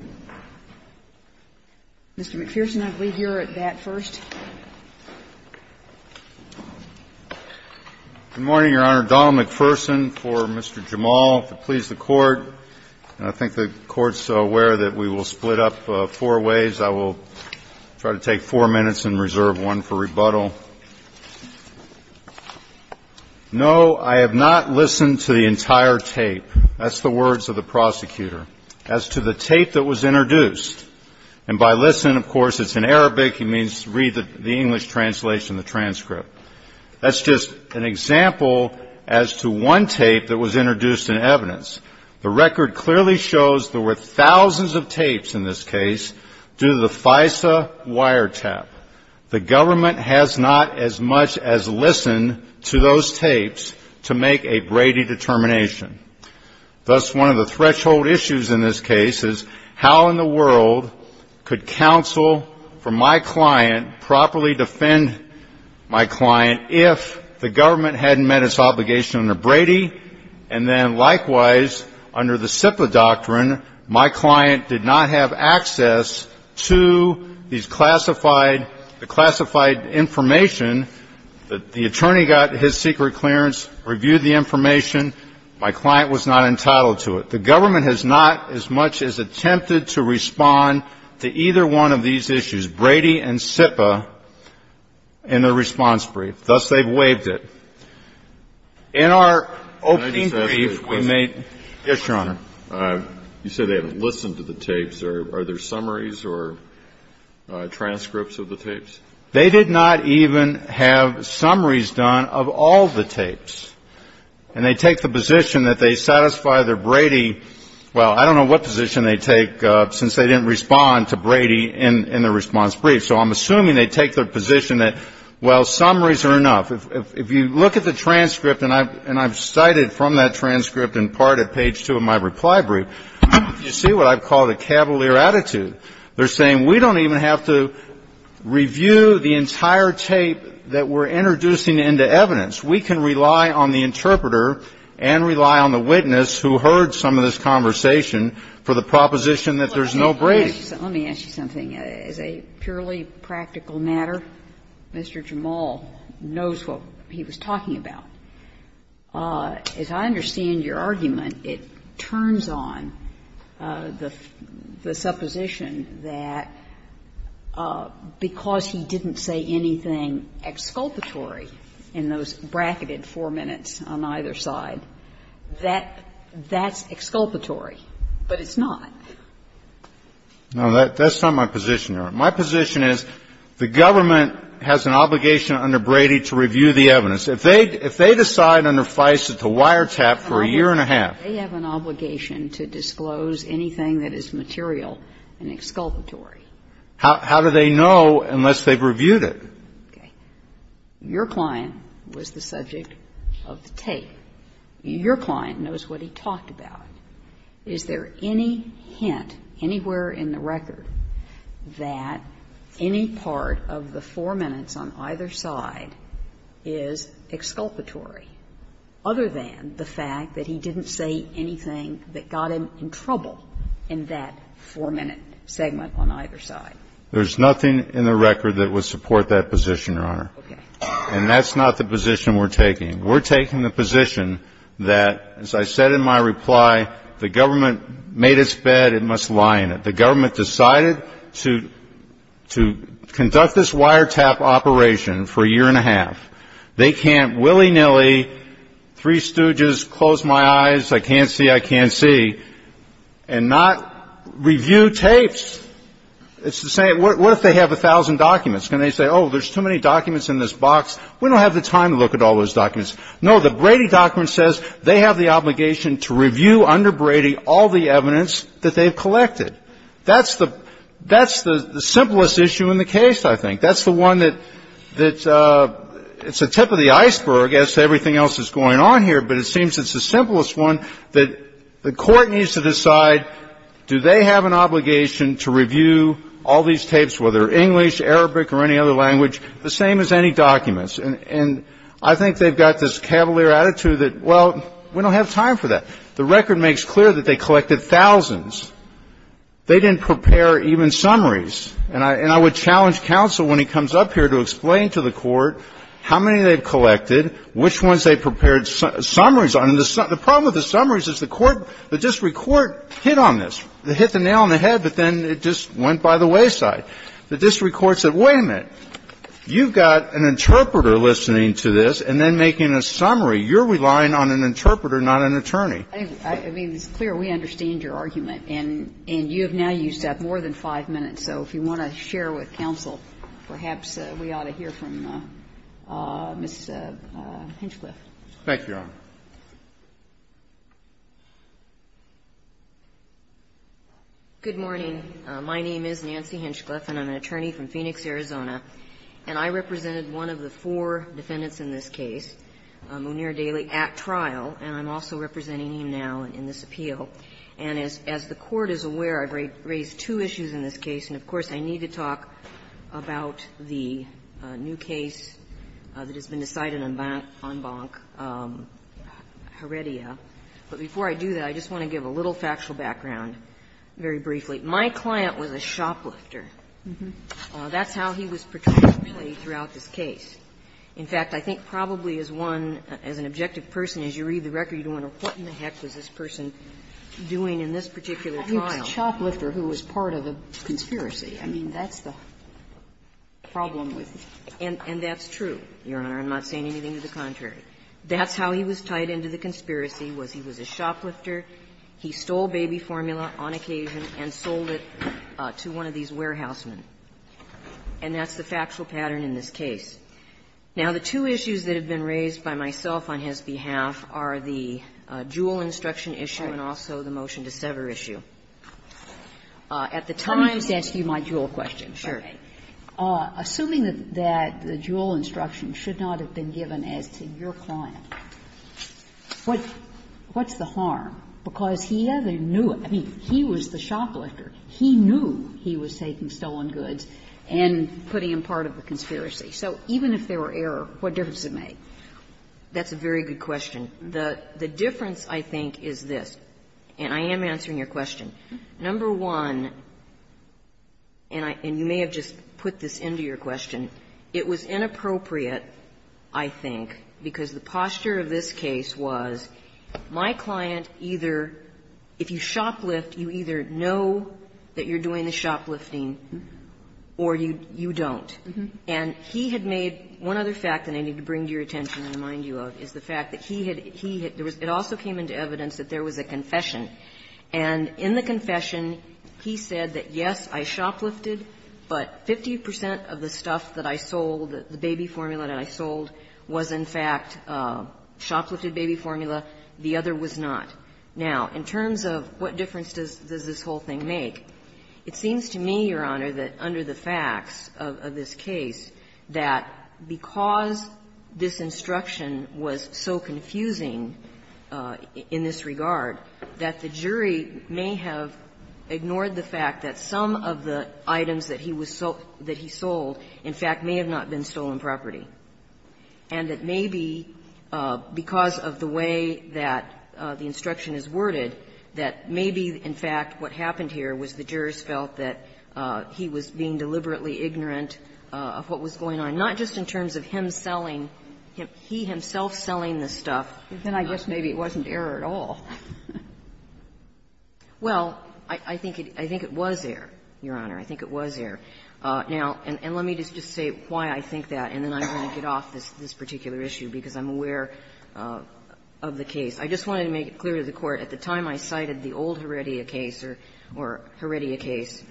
Mr. McPherson, I believe you're at bat first. Good morning, Your Honor. Donald McPherson for Mr. Jamal, to please the Court. And I think the Court's aware that we will split up four ways. I will try to take four minutes and reserve one for rebuttal. No, I have not listened to the entire tape. That's the words of the prosecutor. As to the tape that was introduced, and by listened, of course, it's in Arabic. It means read the English translation, the transcript. That's just an example as to one tape that was introduced in evidence. The record clearly shows there were thousands of tapes in this case due to the FISA wiretap. The government has not as much as listened to those tapes to make a Brady determination. Thus, one of the threshold issues in this case is how in the world could counsel for my client, properly defend my client if the government hadn't met its obligation under Brady, and then likewise under the SIPA doctrine my client did not have access to these classified, the classified information that the attorney got his secret clearance, reviewed the information. My client was not entitled to it. The government has not as much as attempted to respond to either one of these issues, Brady and SIPA, in their response brief. Thus, they've waived it. In our opening brief, we made. Yes, Your Honor. You said they haven't listened to the tapes. Are there summaries or transcripts of the tapes? They did not even have summaries done of all the tapes. And they take the position that they satisfy their Brady, well, I don't know what position they take since they didn't respond to Brady in their response brief. So I'm assuming they take their position that, well, summaries are enough. If you look at the transcript, and I've cited from that transcript in part at page two of my reply brief, you see what I've called a cavalier attitude. They're saying we don't even have to review the entire tape that we're introducing into evidence. We can rely on the interpreter and rely on the witness who heard some of this conversation for the proposition that there's no Brady. Let me ask you something. As a purely practical matter, Mr. Jamal knows what he was talking about. As I understand your argument, it turns on the supposition that because he didn't say anything exculpatory in those bracketed four minutes on either side, that that's exculpatory, but it's not. No, that's not my position, Your Honor. My position is the government has an obligation under Brady to review the evidence. If they decide under FISA to wiretap for a year and a half. They have an obligation to disclose anything that is material and exculpatory. How do they know unless they've reviewed it? Okay. Your client was the subject of the tape. Your client knows what he talked about. Is there any hint anywhere in the record that any part of the four minutes on either side is exculpatory, other than the fact that he didn't say anything that got him in trouble in that four-minute segment on either side? There's nothing in the record that would support that position, Your Honor. Okay. And that's not the position we're taking. We're taking the position that, as I said in my reply, the government made its bed and must lie in it. The government decided to conduct this wiretap operation for a year and a half. They can't willy-nilly, three stooges, close my eyes, I can't see, I can't see. And not review tapes. It's the same. What if they have a thousand documents? Can they say, oh, there's too many documents in this box? We don't have the time to look at all those documents. No. The Brady document says they have the obligation to review under Brady all the evidence that they've collected. That's the simplest issue in the case, I think. That's the one that's a tip of the iceberg as to everything else that's going on here. But it seems it's the simplest one that the Court needs to decide, do they have an obligation to review all these tapes, whether English, Arabic, or any other language, the same as any documents? And I think they've got this cavalier attitude that, well, we don't have time for that. The record makes clear that they collected thousands. They didn't prepare even summaries. And I would challenge counsel when he comes up here to explain to the Court how many they've collected, which ones they prepared summaries on. And the problem with the summaries is the court, the district court hit on this. They hit the nail on the head, but then it just went by the wayside. The district court said, wait a minute, you've got an interpreter listening to this and then making a summary. You're relying on an interpreter, not an attorney. I mean, it's clear we understand your argument. And you have now used up more than five minutes. So if you want to share with counsel, perhaps we ought to hear from Ms. Hinchcliffe. Thank you, Your Honor. Good morning. My name is Nancy Hinchcliffe, and I'm an attorney from Phoenix, Arizona. And I represented one of the four defendants in this case, Muneer Daly, at trial. And I'm also representing him now in this appeal. And as the Court is aware, I've raised two issues in this case. And, of course, I need to talk about the new case that has been decided on Bonn Bonk, Heredia. But before I do that, I just want to give a little factual background very briefly. My client was a shoplifter. That's how he was portrayed throughout this case. In fact, I think probably as one, as an objective person, as you read the record, you don't know what in the heck was this person doing in this particular trial. I mean, a shoplifter who was part of a conspiracy. I mean, that's the problem with it. And that's true, Your Honor. I'm not saying anything to the contrary. That's how he was tied into the conspiracy, was he was a shoplifter. He stole baby formula on occasion and sold it to one of these warehouse men. And that's the factual pattern in this case. Now, the two issues that have been raised by myself on his behalf are the Jewell instruction issue and also the motion to sever issue. At the time he was a shoplifter, he knew he was taking stolen goods and putting in part of the conspiracy. So even if there were error, what difference does it make? That's a very good question. The difference, I think, is this, and I am answering your question. Number one, and you may have just put this into your question, it was inappropriate, I think, because the posture of this case was my client either, if you shoplift, you either know that you're doing the shoplifting or you don't. And he had made one other fact that I need to bring to your attention and remind you of, is the fact that he had, he had, it also came into evidence that there was a confession. And in the confession, he said that, yes, I shoplifted, but 50 percent of the stuff that I sold, the baby formula that I sold, was, in fact, a shoplifted baby formula. The other was not. Now, in terms of what difference does this whole thing make, it seems to me, Your Honor, based on the facts of this case, that because this instruction was so confusing in this regard, that the jury may have ignored the fact that some of the items that he was sold, that he sold, in fact, may have not been stolen property. And that maybe because of the way that the instruction is worded, that maybe, in fact, what happened here was the jurors felt that he was being deliberately ignorant of what was going on, not just in terms of him selling, he himself selling the stuff. And I guess maybe it wasn't error at all. Well, I think it, I think it was error, Your Honor, I think it was error. Now, and let me just say why I think that, and then I'm going to get off this particular issue, because I'm aware of the case. I just wanted to make it clear to the Court, at the time I cited the old Heredia case, or Heredia case,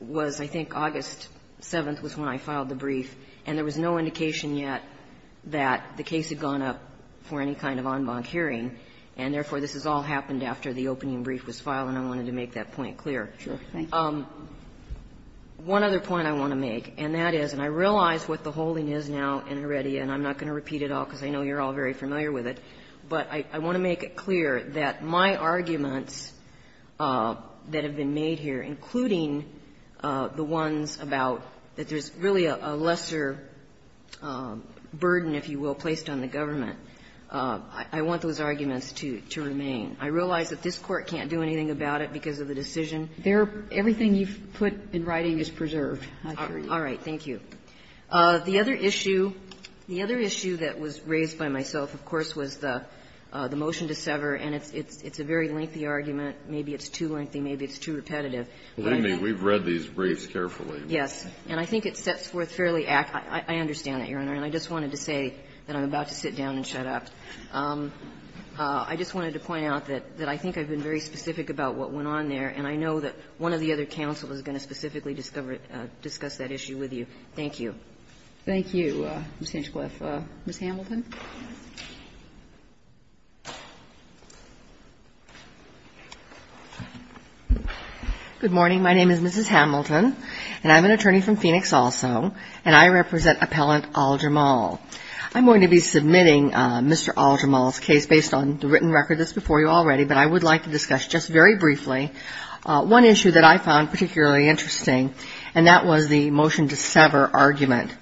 was I think August 7th was when I filed the brief, and there was no indication yet that the case had gone up for any kind of en banc hearing, and therefore this has all happened after the opening brief was filed, and I wanted to make that point clear. One other point I want to make, and that is, and I realize what the holding is now in Heredia, and I'm not going to repeat it all, because I know you're all very familiar with it, but I want to make it clear that my arguments that have been made here, including the ones about that there's really a lesser burden, if you will, placed on the government, I want those arguments to remain. I realize that this Court can't do anything about it because of the decision. Everything you've put in writing is preserved. All right. Thank you. The other issue, the other issue that was raised by myself, of course, was the motion to sever, and it's a very lengthy argument. Maybe it's too lengthy, maybe it's too repetitive. Kennedy, we've read these briefs carefully. Yes. And I think it sets forth fairly accurate, I understand that, Your Honor, and I just wanted to say that I'm about to sit down and shut up. I just wanted to point out that I think I've been very specific about what went on there, and I know that one of the other counsels is going to specifically discuss that issue with you. Thank you. Thank you, Ms. Hinchcliffe. Ms. Hamilton? Good morning. My name is Mrs. Hamilton, and I'm an attorney from Phoenix also, and I represent Appellant Al-Jamal. I'm going to be submitting Mr. Al-Jamal's case based on the written record that's before you already, but I would like to discuss just very briefly one issue that I was concerned about in this case, and that was the motion to sever argument.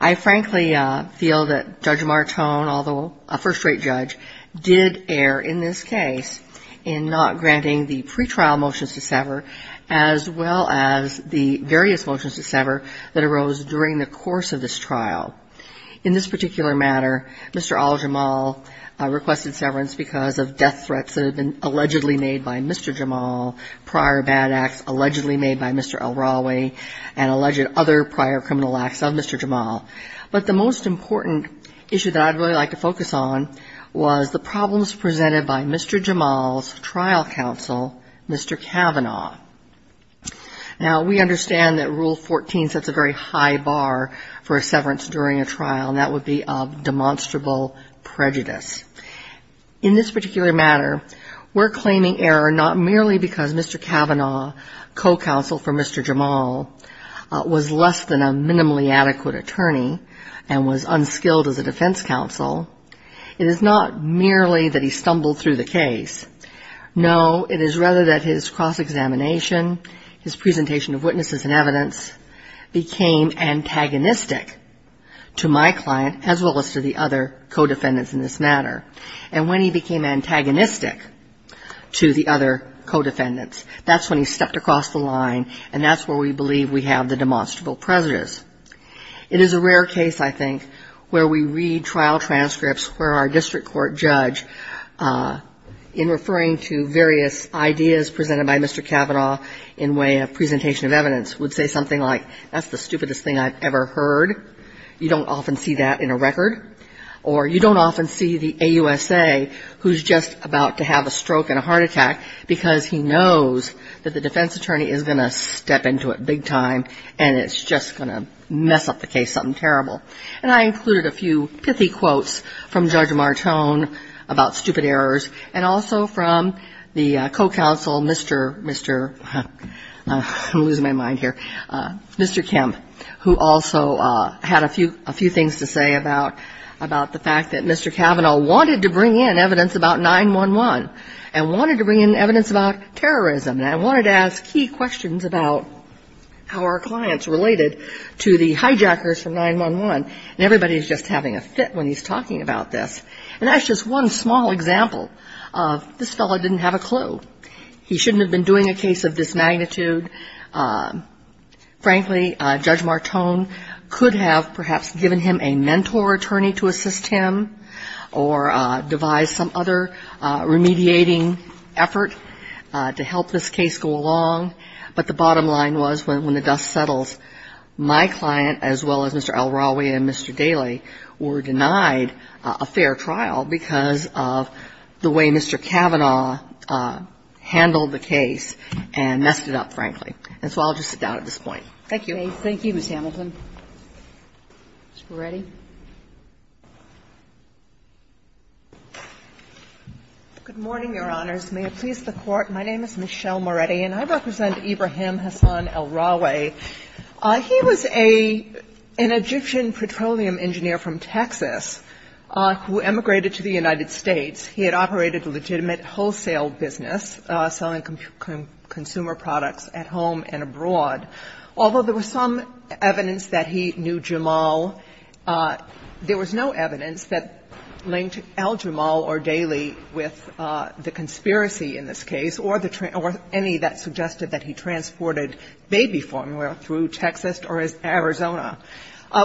I frankly feel that Judge Martone, although a first-rate judge, did err in this case in not granting the pretrial motions to sever as well as the various motions to sever that arose during the course of this trial. In this particular matter, Mr. Al-Jamal requested severance because of death threats that had been allegedly made by Mr. Jamal, prior bad acts allegedly made by Mr. Al-Rawi, and alleged other prior criminal acts of Mr. Jamal. But the most important issue that I'd really like to focus on was the problems presented by Mr. Jamal's trial counsel, Mr. Kavanaugh. Now, we understand that Rule 14 sets a very high bar for a severance during a trial, and that would be of demonstrable prejudice. In this particular matter, we're claiming error not merely because Mr. Kavanaugh, co-counsel for Mr. Jamal, was less than a minimally adequate attorney and was unskilled as a defense counsel. It is not merely that he stumbled through the case. No, it is rather that his cross-examination, his presentation of witnesses and evidence became antagonistic to my client, as well as to the other co-defendants in this matter. And when he became antagonistic to the other co-defendants, that's when he stepped across the line, and that's where we believe we have the demonstrable prejudice. It is a rare case, I think, where we read trial transcripts where our district court judge, in referring to various ideas presented by Mr. Kavanaugh in way of presentation of evidence, would say something like, that's the stupidest thing I've ever heard. You don't often see that in a record. Or you don't often see the AUSA who's just about to have a stroke and that the defense attorney is going to step into it big time and it's just going to mess up the case something terrible. And I included a few pithy quotes from Judge Martone about stupid errors and also from the co-counsel, Mr., Mr., I'm losing my mind here, Mr. Kemp, who also had a few things to say about the fact that Mr. Kavanaugh wanted to bring in evidence about 9-1-1 and wanted to bring in evidence about terrorism. And I wanted to ask key questions about how our clients related to the hijackers from 9-1-1, and everybody's just having a fit when he's talking about this. And that's just one small example of this fellow didn't have a clue. He shouldn't have been doing a case of this magnitude. Frankly, Judge Martone could have perhaps given him a mentor attorney to assist him or devise some other remediating effort to help this case go along. But the bottom line was when the dust settles, my client, as well as Mr. El-Rawi and Mr. Daley, were denied a fair trial because of the way Mr. Kavanaugh handled the case and messed it up, frankly. And so I'll just sit down at this point. Thank you. Thank you, Ms. Hamilton. Ms. Peretti. Good morning, Your Honors. May it please the Court. My name is Michelle Moretti, and I represent Ibrahim Hassan El-Rawi. He was an Egyptian petroleum engineer from Texas who emigrated to the United States. He had operated a legitimate wholesale business, selling consumer products at home and abroad. Although there was some evidence that he knew Jamal, there was no evidence that linked Al-Jamal or Daley with the conspiracy in this case or the any that suggested that he transported baby formula through Texas or Arizona.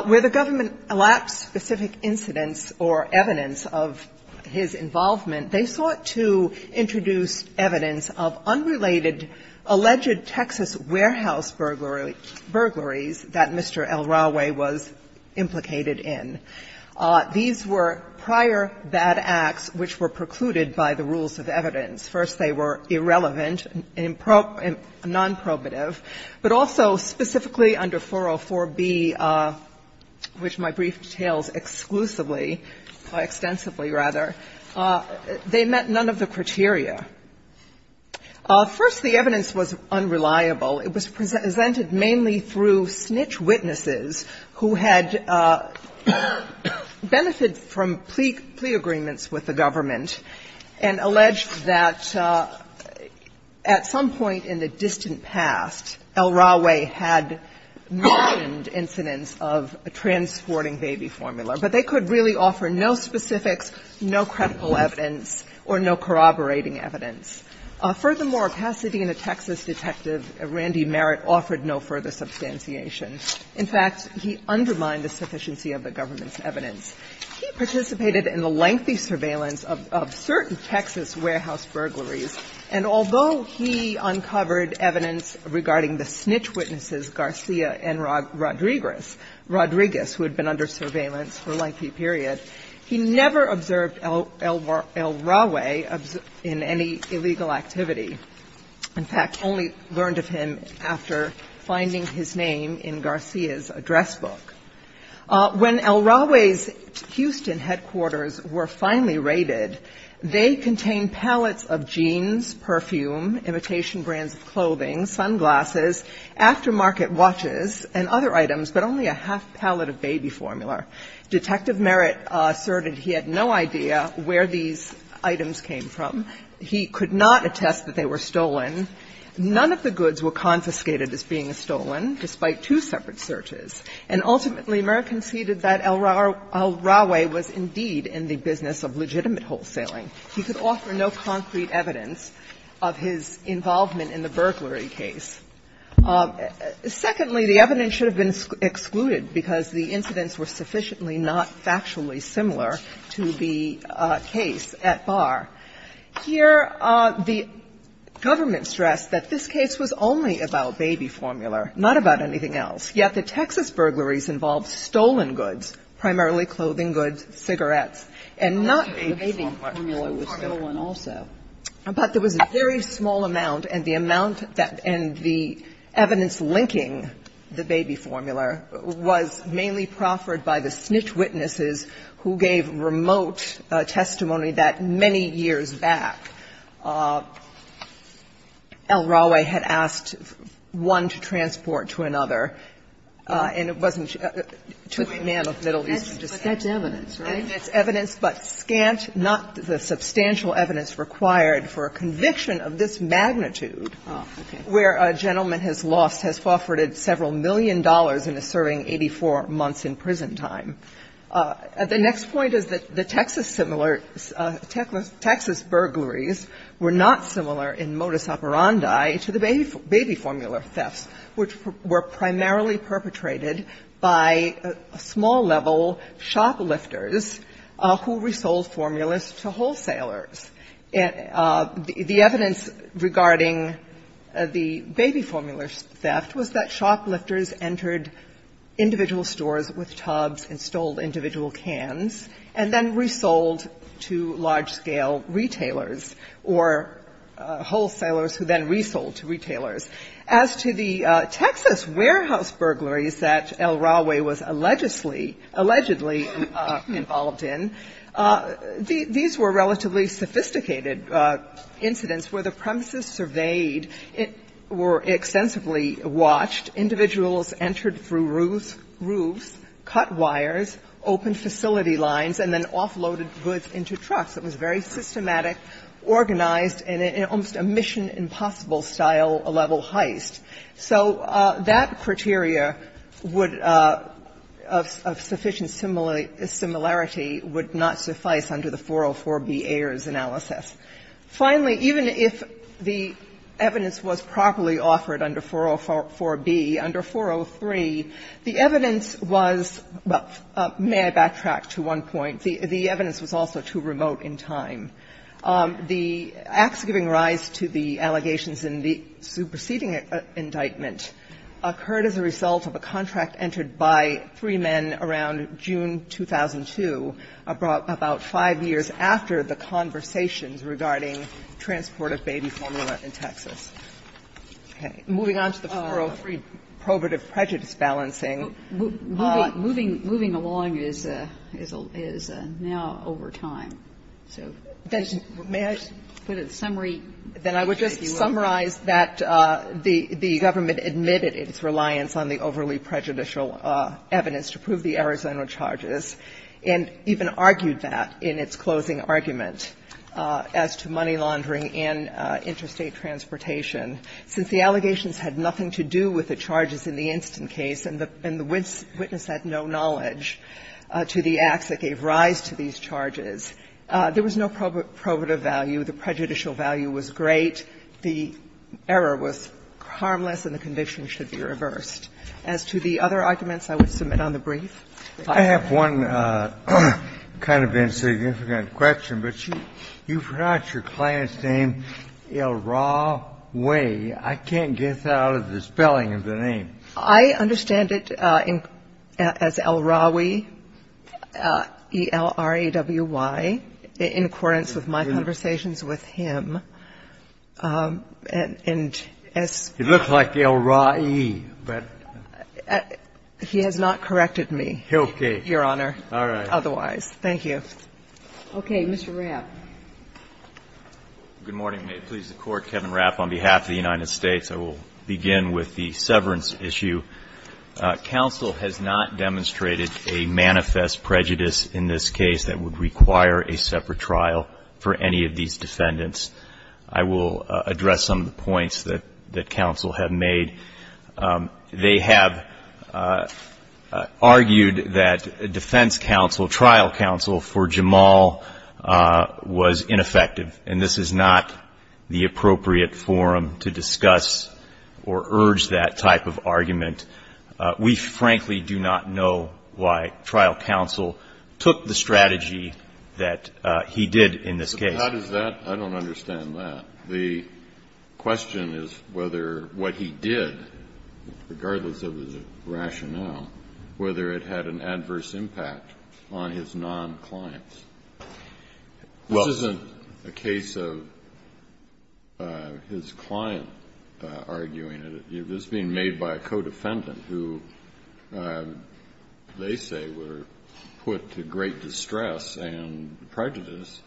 Where the government elapsed specific incidents or evidence of his involvement, they sought to introduce evidence of unrelated alleged Texas warehouse burglaries that Mr. El-Rawi was implicated in. These were prior bad acts which were precluded by the rules of evidence. First, they were irrelevant, nonprobative, but also specifically under 404b, which my brief details exclusively, extensively rather, they met none of the criteria. First, the evidence was unreliable. It was presented mainly through snitch witnesses who had benefited from plea agreements with the government and alleged that at some point in the distant past, El-Rawi had mentioned incidents of transporting baby formula. But they could really offer no specifics, no credible evidence, or no corroborating evidence. Furthermore, Pasadena, Texas, Detective Randy Merritt offered no further substantiation. In fact, he undermined the sufficiency of the government's evidence. He participated in the lengthy surveillance of certain Texas warehouse burglaries, and although he uncovered evidence regarding the snitch witnesses Garcia and Rodriguez, Rodriguez, who had been under surveillance for a lengthy period, he never observed El-Rawi in any illegal activity. In fact, only learned of him after finding his name in Garcia's address book. When El-Rawi's Houston headquarters were finally raided, they contained pallets of jeans, perfume, imitation brands of clothing, sunglasses, aftermarket watches, and other items, but only a half pallet of baby formula. Detective Merritt asserted he had no idea where these items came from. He could not attest that they were stolen. None of the goods were confiscated as being stolen, despite two separate searches. And ultimately, Merritt conceded that El-Rawi was indeed in the business of legitimate wholesaling. He could offer no concrete evidence of his involvement in the burglary case. Secondly, the evidence should have been excluded because the incidents were sufficiently not factually similar to the case at Barr. Here, the government stressed that this case was only about baby formula, not about anything else. Yet the Texas burglaries involved stolen goods, primarily clothing goods, cigarettes, and not a formula. But there was a very small amount, and the amount that the Texas burglaries were involved in, the evidence linking the baby formula, was mainly proffered by the snitch witnesses who gave remote testimony that many years back El-Rawi had asked one to transport to another, and it wasn't to a man of Middle Eastern descent. But that's evidence, right? And it's evidence, but scant, not the substantial evidence required for a conviction of this magnitude, where a gentleman has lost, has forfeited several million dollars and is serving 84 months in prison time. The next point is that the Texas burglaries were not similar in modus operandi to the baby formula thefts, which were primarily perpetrated by small-level shoplifters who resold formulas to wholesalers. The evidence regarding the baby formula theft was that shoplifters entered individual stores with tubs and stole individual cans and then resold to large-scale retailers or wholesalers who then resold to retailers. As to the Texas warehouse burglaries that El-Rawi was allegedly involved in, these were relatively sophisticated incidents where the premises surveyed, were extensively watched. Individuals entered through roofs, cut wires, opened facility lines, and then offloaded goods into trucks. It was very systematic, organized, and almost a mission impossible style level heist. So that criteria would of sufficient similarity would not suffice under the 404A. The next point is that the Texas burglaries were not similar in modus operandi to the baby formula thefts, which were primarily perpetrated by small-level shoplifters who resold to large-scale retailers or wholesalers who resold to large-scale retailers who resold to large-scale shoplifters who resold to large-scale retailers who resold to large-scale retailers. Under the conversation regarding transport of baby formula in Texas. Okay. Moving on to the 403, probative prejudice balancing. Moving along is now over time, so just put a summary. Then I would just summarize that the government admitted its reliance on the overly prejudicial evidence to prove the Arizona charges, and even argued that in its closing argument as to money laundering and interstate transportation. Since the allegations had nothing to do with the charges in the instant case and the witness had no knowledge to the acts that gave rise to these charges, there was no probative value. The prejudicial value was great, the error was harmless, and the conviction should be reversed. As to the other arguments, I would submit on the brief. I have one kind of insignificant question, but you forgot your client's name, Elrawi. I can't get out of the spelling of the name. I understand it as Elrawi, E-L-R-A-W-I, in accordance with my conversations with him. And as you look like Elrawi, but he has not corrected me. Okay. Your Honor. All right. Otherwise, thank you. Okay. Mr. Rapp. Good morning. May it please the Court, Kevin Rapp, on behalf of the United States. I will begin with the severance issue. Counsel has not demonstrated a manifest prejudice in this case that would require a separate trial for any of these defendants. I will address some of the points that counsel have made. They have argued that defense counsel, trial counsel for Jamal was ineffective. And this is not the appropriate forum to discuss or urge that type of argument. We frankly do not know why trial counsel took the strategy that he did in this case. But how does that – I don't understand that. The question is whether what he did, regardless of his rationale, whether it had an adverse impact on his non-clients. This isn't a case of his client arguing it. It's being made by a co-defendant who they say were put to great distress and prejudice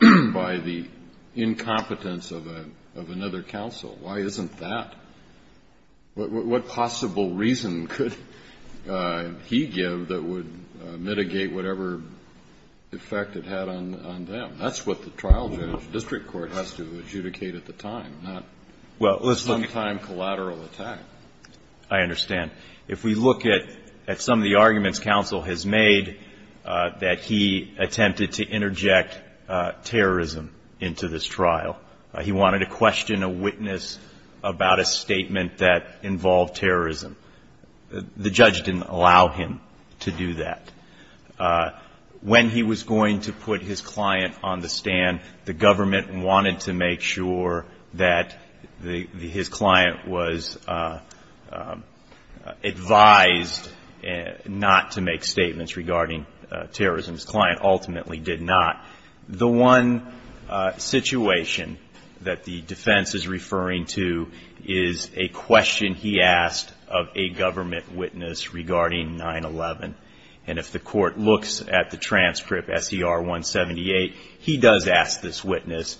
by the incompetence of another counsel. Why isn't that? What possible reason could he give that would mitigate whatever effect it had on them? That's what the trial judge, district court, has to adjudicate at the time, not some time collateral attack. I understand. If we look at some of the arguments counsel has made that he attempted to interject terrorism into this trial. He wanted to question a witness about a statement that involved terrorism. The judge didn't allow him to do that. When he was going to put his client on the stand, the government wanted to make sure that his client was advised not to make statements regarding terrorism. His client ultimately did not. The one situation that the defense is referring to is a question he asked of a government witness regarding 9-11. If the court looks at the transcript, S.E.R. 178, he does ask this witness,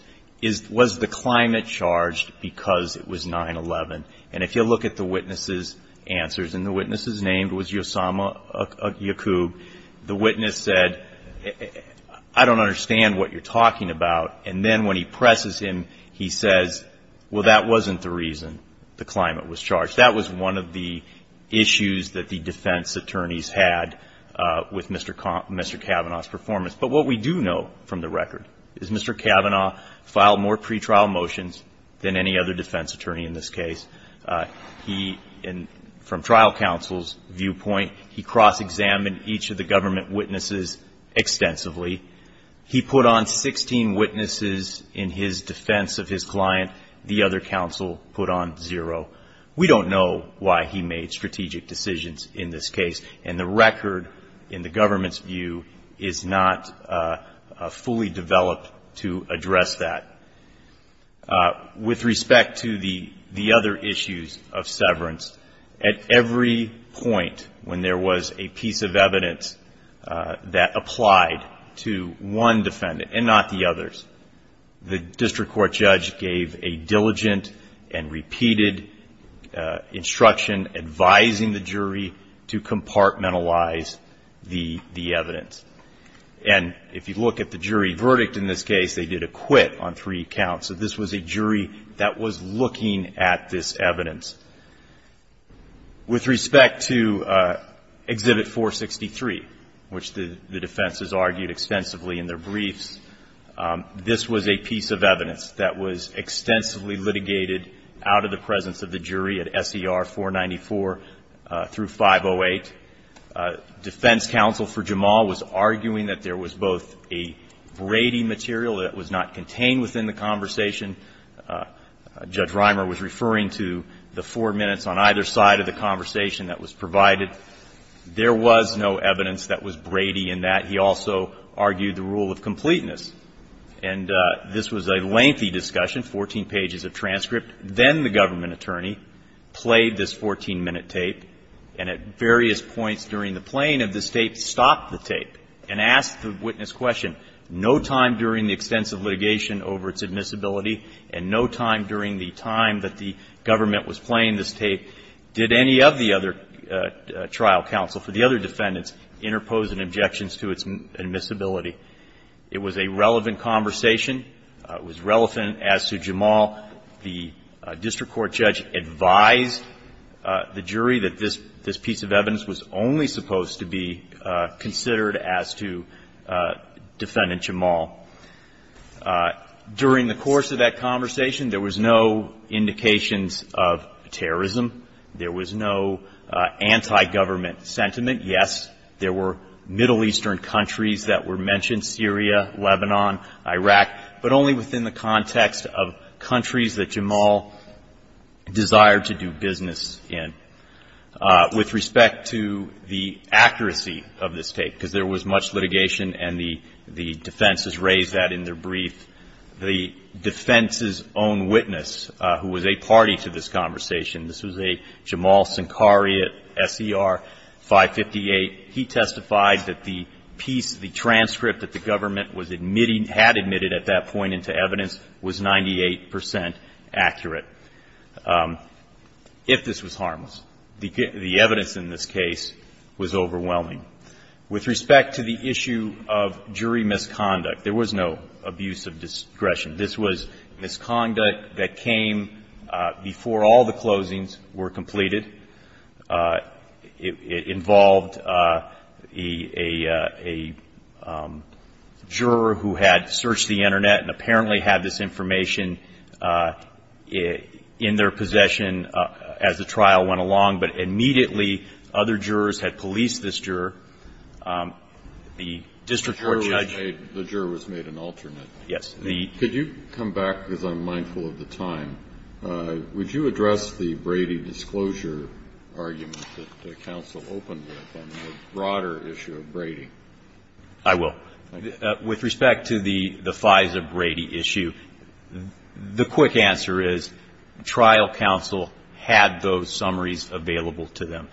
was the climate charged because it was 9-11? If you look at the witness's answers, and the witness's name was Yosama Yacoub, the judge said, I understand what you're talking about. And then when he presses him, he says, well, that wasn't the reason the climate was charged. That was one of the issues that the defense attorneys had with Mr. Kavanaugh's performance. But what we do know from the record is Mr. Kavanaugh filed more pretrial motions than any other defense attorney in this case. He, from trial counsel's viewpoint, he cross-examined each of the government witnesses extensively. He put on 16 witnesses in his defense of his client. The other counsel put on zero. We don't know why he made strategic decisions in this case. And the record, in the government's view, is not fully developed to address that. With respect to the other issues of severance, at every point when there was a piece of evidence that applied to one defendant and not the others, the district court judge gave a diligent and repeated instruction advising the jury to compartmentalize the evidence. And if you look at the jury verdict in this case, they did a quit on three counts. So this was a jury that was looking at this evidence. With respect to Exhibit 463, which the defense has argued extensively in their briefs, this was a piece of evidence that was extensively litigated out of the presence of the jury at S.E.R. 494 through 508. Defense counsel for Jamal was arguing that there was both a Brady material that was not contained within the conversation. Judge Reimer was referring to the four minutes on either side of the conversation that was provided. There was no evidence that was Brady in that. He also argued the rule of completeness. And this was a lengthy discussion, 14 pages of transcript. Then the government attorney played this 14-minute tape and at various points during the playing of this tape stopped the tape and asked the witness question. No time during the extensive litigation over its admissibility and no time during the time that the government was playing this tape did any of the other trial counsel for the other defendants interpose an objection to its admissibility. It was a relevant conversation. It was relevant as to Jamal. The district court judge advised the jury that this piece of evidence was only supposed to be considered as to Defendant Jamal. During the course of that conversation, there was no indications of terrorism. There was no anti-government sentiment. Yes, there were Middle Eastern countries that were mentioned, Syria, Lebanon, Iraq, but only within the context of countries that Jamal desired to do business in. With respect to the accuracy of this tape, because there was much litigation and the defense has raised that in their brief, the defense's own witness, who was a party to this conversation, this was a Jamal Sankari at SER 558. He testified that the piece, the transcript that the government was admitting, had admitted at that point into evidence, was 98 percent accurate, if this was harmless. The evidence in this case was overwhelming. With respect to the issue of jury misconduct, there was no abuse of discretion. This was misconduct that came before all the closings were completed. It involved a juror who had searched the Internet and apparently had this information in their possession as the trial went along, but immediately other jurors had policed this juror, the district court judge. The juror was made an alternate. Yes. Could you come back, because I'm mindful of the time. Would you address the Brady disclosure argument that the counsel opened with on the broader issue of Brady? I will. With respect to the FISA Brady issue, the quick answer is trial counsel had those summaries available to them.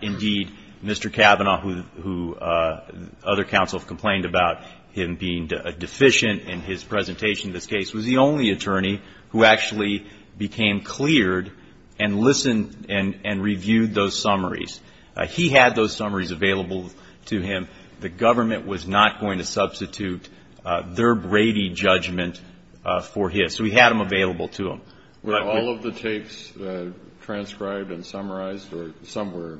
Indeed, Mr. Kavanaugh, who other counsels complained about him being deficient in his presentation in this case, was the only attorney who actually became cleared and listened and reviewed those summaries. He had those summaries available to him. The government was not going to substitute their Brady judgment for his. So he had them available to him. Were all of the tapes transcribed and summarized, or some were?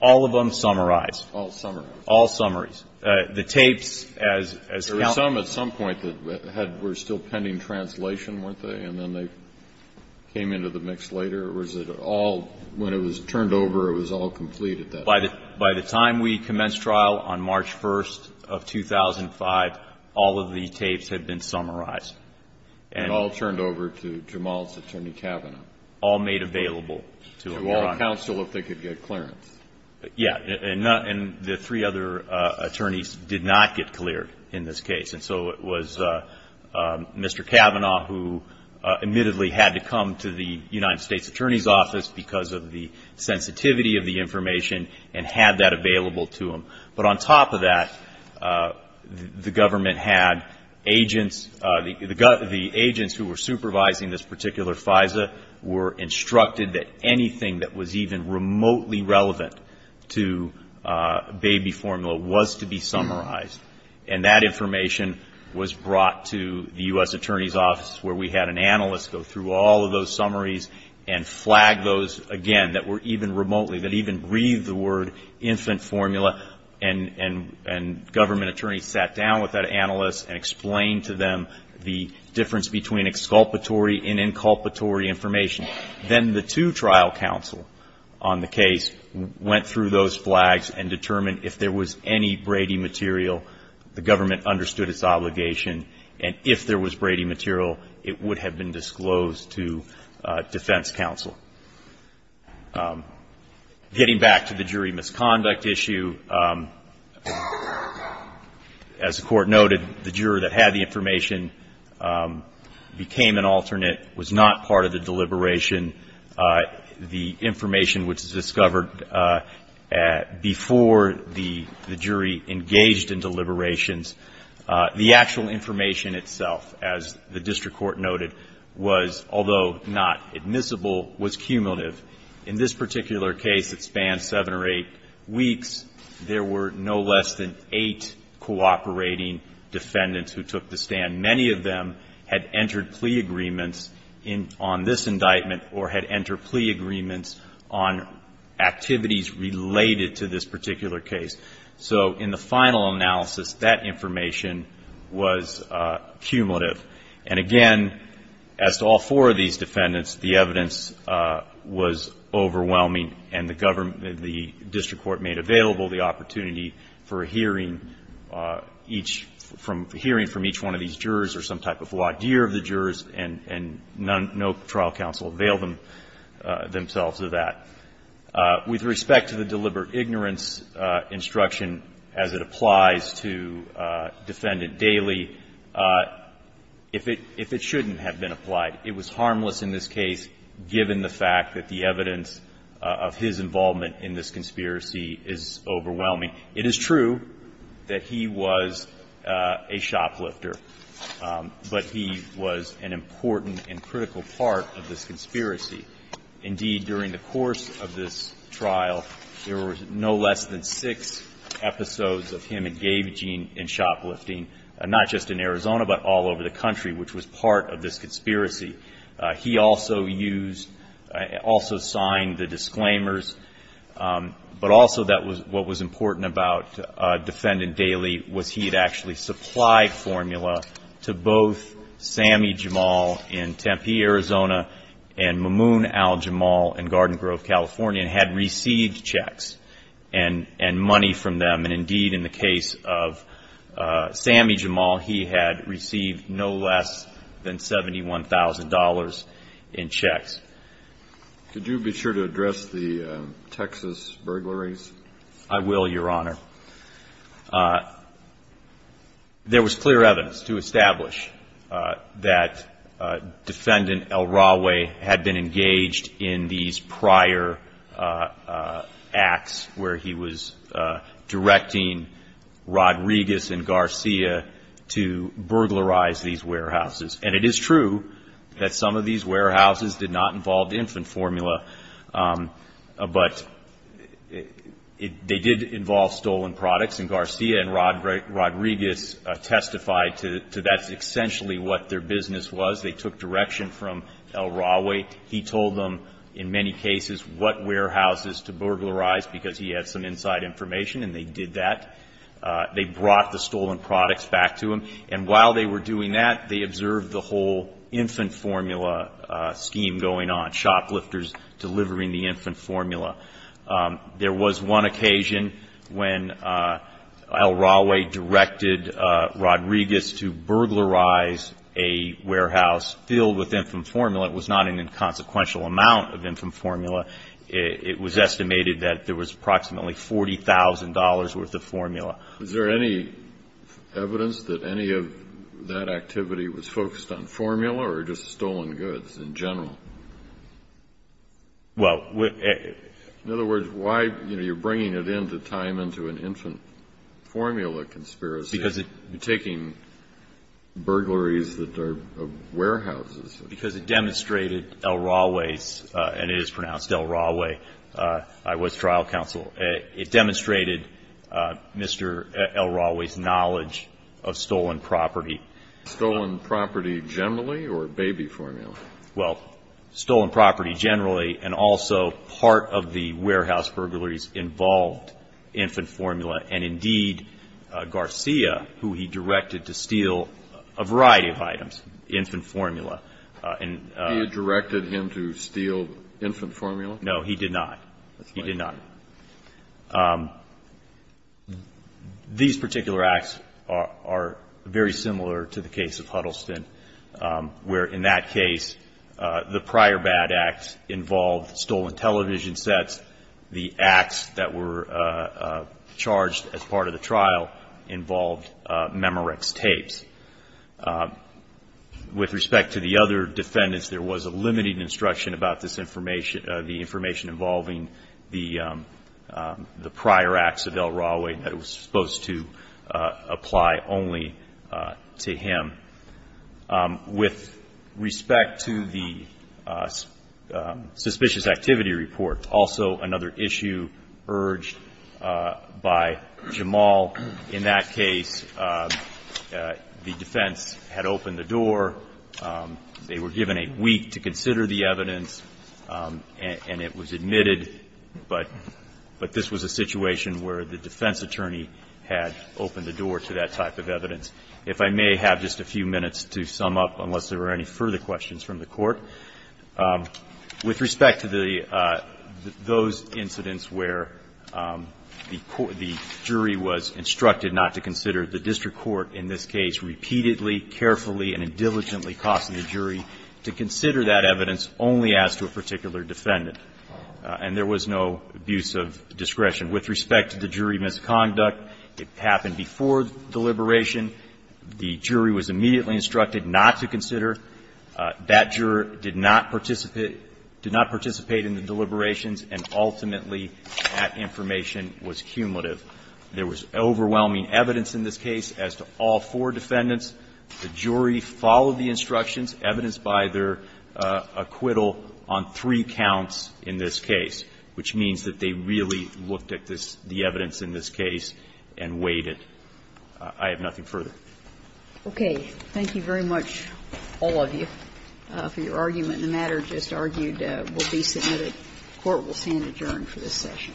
All of them summarized. All summarized. All summaries. The tapes as counsel. There were some at some point that were still pending translation, weren't they? And then they came into the mix later. Or was it all, when it was turned over, it was all complete at that point? By the time we commenced trial on March 1st of 2005, all of the tapes had been summarized. And all turned over to Jamal's attorney, Kavanaugh. All made available to him. To all counsel, if they could get clearance. Yes. And the three other attorneys did not get cleared in this case. And so it was Mr. Kavanaugh who admittedly had to come to the United States Attorney's Office because of the sensitivity of the information and had that available to him. But on top of that, the government had agents, the agents who were supervising this particular FISA were instructed that anything that was even remotely relevant to baby formula was to be summarized. And that information was brought to the U.S. Attorney's Office where we had an analyst go through all of those summaries and flag those, again, that were even remotely, that even breathed the word infant formula. And government attorneys sat down with that analyst and explained to them the difference between exculpatory and inculpatory information. Then the two trial counsel on the case went through those flags and determined if there was any Brady material, the government understood its obligation. And if there was Brady material, it would have been disclosed to defense counsel. Getting back to the jury misconduct issue, as the Court noted, the juror that had the information became an alternate, was not part of the deliberation. The information which was discovered before the jury engaged in deliberations, the actual information itself, as the district court noted, was, although not admissible, was cumulative. In this particular case that spanned seven or eight weeks, there were no less than eight cooperating defendants who took the stand. Many of them had entered plea agreements on this indictment or had entered plea agreements on activities related to this particular case. So in the final analysis, that information was cumulative. And, again, as to all four of these defendants, the evidence was overwhelming and the district court made available the opportunity for a hearing from each one of these jurors or some type of wadir of the jurors, and no trial counsel availed themselves of that. With respect to the deliberate ignorance instruction as it applies to defendant Daley, if it shouldn't have been applied, it was harmless in this case, given the fact that the evidence of his involvement in this conspiracy is overwhelming. It is true that he was a shoplifter, but he was an important and critical part of this conspiracy. Indeed, during the course of this trial, there were no less than six episodes of him engaging in shoplifting, not just in Arizona, but all over the country, which was part of this conspiracy. He also used, also signed the disclaimers, but also what was important about defendant Daley was he had actually supplied formula to both Sammy Jamal in Tempe, Arizona, and Mamoon Al-Jamal in Garden Grove, California, and had received checks and money from them. And indeed, in the case of Sammy Jamal, he had received no less than $71,000 in checks. Could you be sure to address the Texas burglaries? I will, Your Honor. There was clear evidence to establish that defendant El-Rawe had been engaged in these prior acts where he was directing Rodriguez and Garcia to burglarize these warehouses. And it is true that some of these warehouses did not involve infant formula, but they did involve stolen products. And Garcia and Rodriguez testified to that's essentially what their business was. They took direction from El-Rawe. He told them in many cases what warehouses to burglarize because he had some inside information, and they did that. They brought the stolen products back to him. And while they were doing that, they observed the whole infant formula scheme going on, shoplifters delivering the infant formula. There was one occasion when El-Rawe directed Rodriguez to burglarize a warehouse filled with infant formula. It was not an inconsequential amount of infant formula. It was estimated that there was approximately $40,000 worth of formula. Is there any evidence that any of that activity was focused on formula or just stolen goods in general? Well, we're at the... In other words, why, you know, you're bringing it into time into an infant formula conspiracy. Because it... You're taking burglaries that are warehouses. Because it demonstrated El-Rawe's, and it is pronounced El-Rawe, I was trial counsel. It demonstrated Mr. El-Rawe's knowledge of stolen property. Stolen property generally or baby formula? Well, stolen property generally and also part of the warehouse burglaries involved infant formula, and indeed Garcia, who he directed to steal a variety of items, infant formula. He directed him to steal infant formula? No, he did not. He did not. These particular acts are very similar to the case of Huddleston, where in that case, the prior bad act involved stolen television sets. The acts that were charged as part of the trial involved Memorex tapes. With respect to the other defendants, there was a limited instruction about this information, the information involving the prior acts of El-Rawe that was supposed to apply only to him. With respect to the suspicious activity report, also another issue urged by Jamal, in that case, the defense had opened the door. They were given a week to consider the evidence, and it was admitted, but this was a situation where the defense attorney had opened the door to that type of evidence. If I may have just a few minutes to sum up, unless there were any further questions from the Court. With respect to those incidents where the jury was instructed not to consider, the district court in this case repeatedly, carefully, and diligently cautioned the jury to consider that evidence only as to a particular defendant, and there was no abuse of discretion. And with respect to the jury misconduct, it happened before the deliberation. The jury was immediately instructed not to consider. That juror did not participate in the deliberations, and ultimately that information was cumulative. There was overwhelming evidence in this case as to all four defendants. The jury followed the instructions evidenced by their acquittal on three counts in this case, which means that they really looked at the evidence in this case and weighed it. I have nothing further. Okay. Thank you very much, all of you, for your argument. The matter just argued will be submitted. The Court will stand adjourned for this session.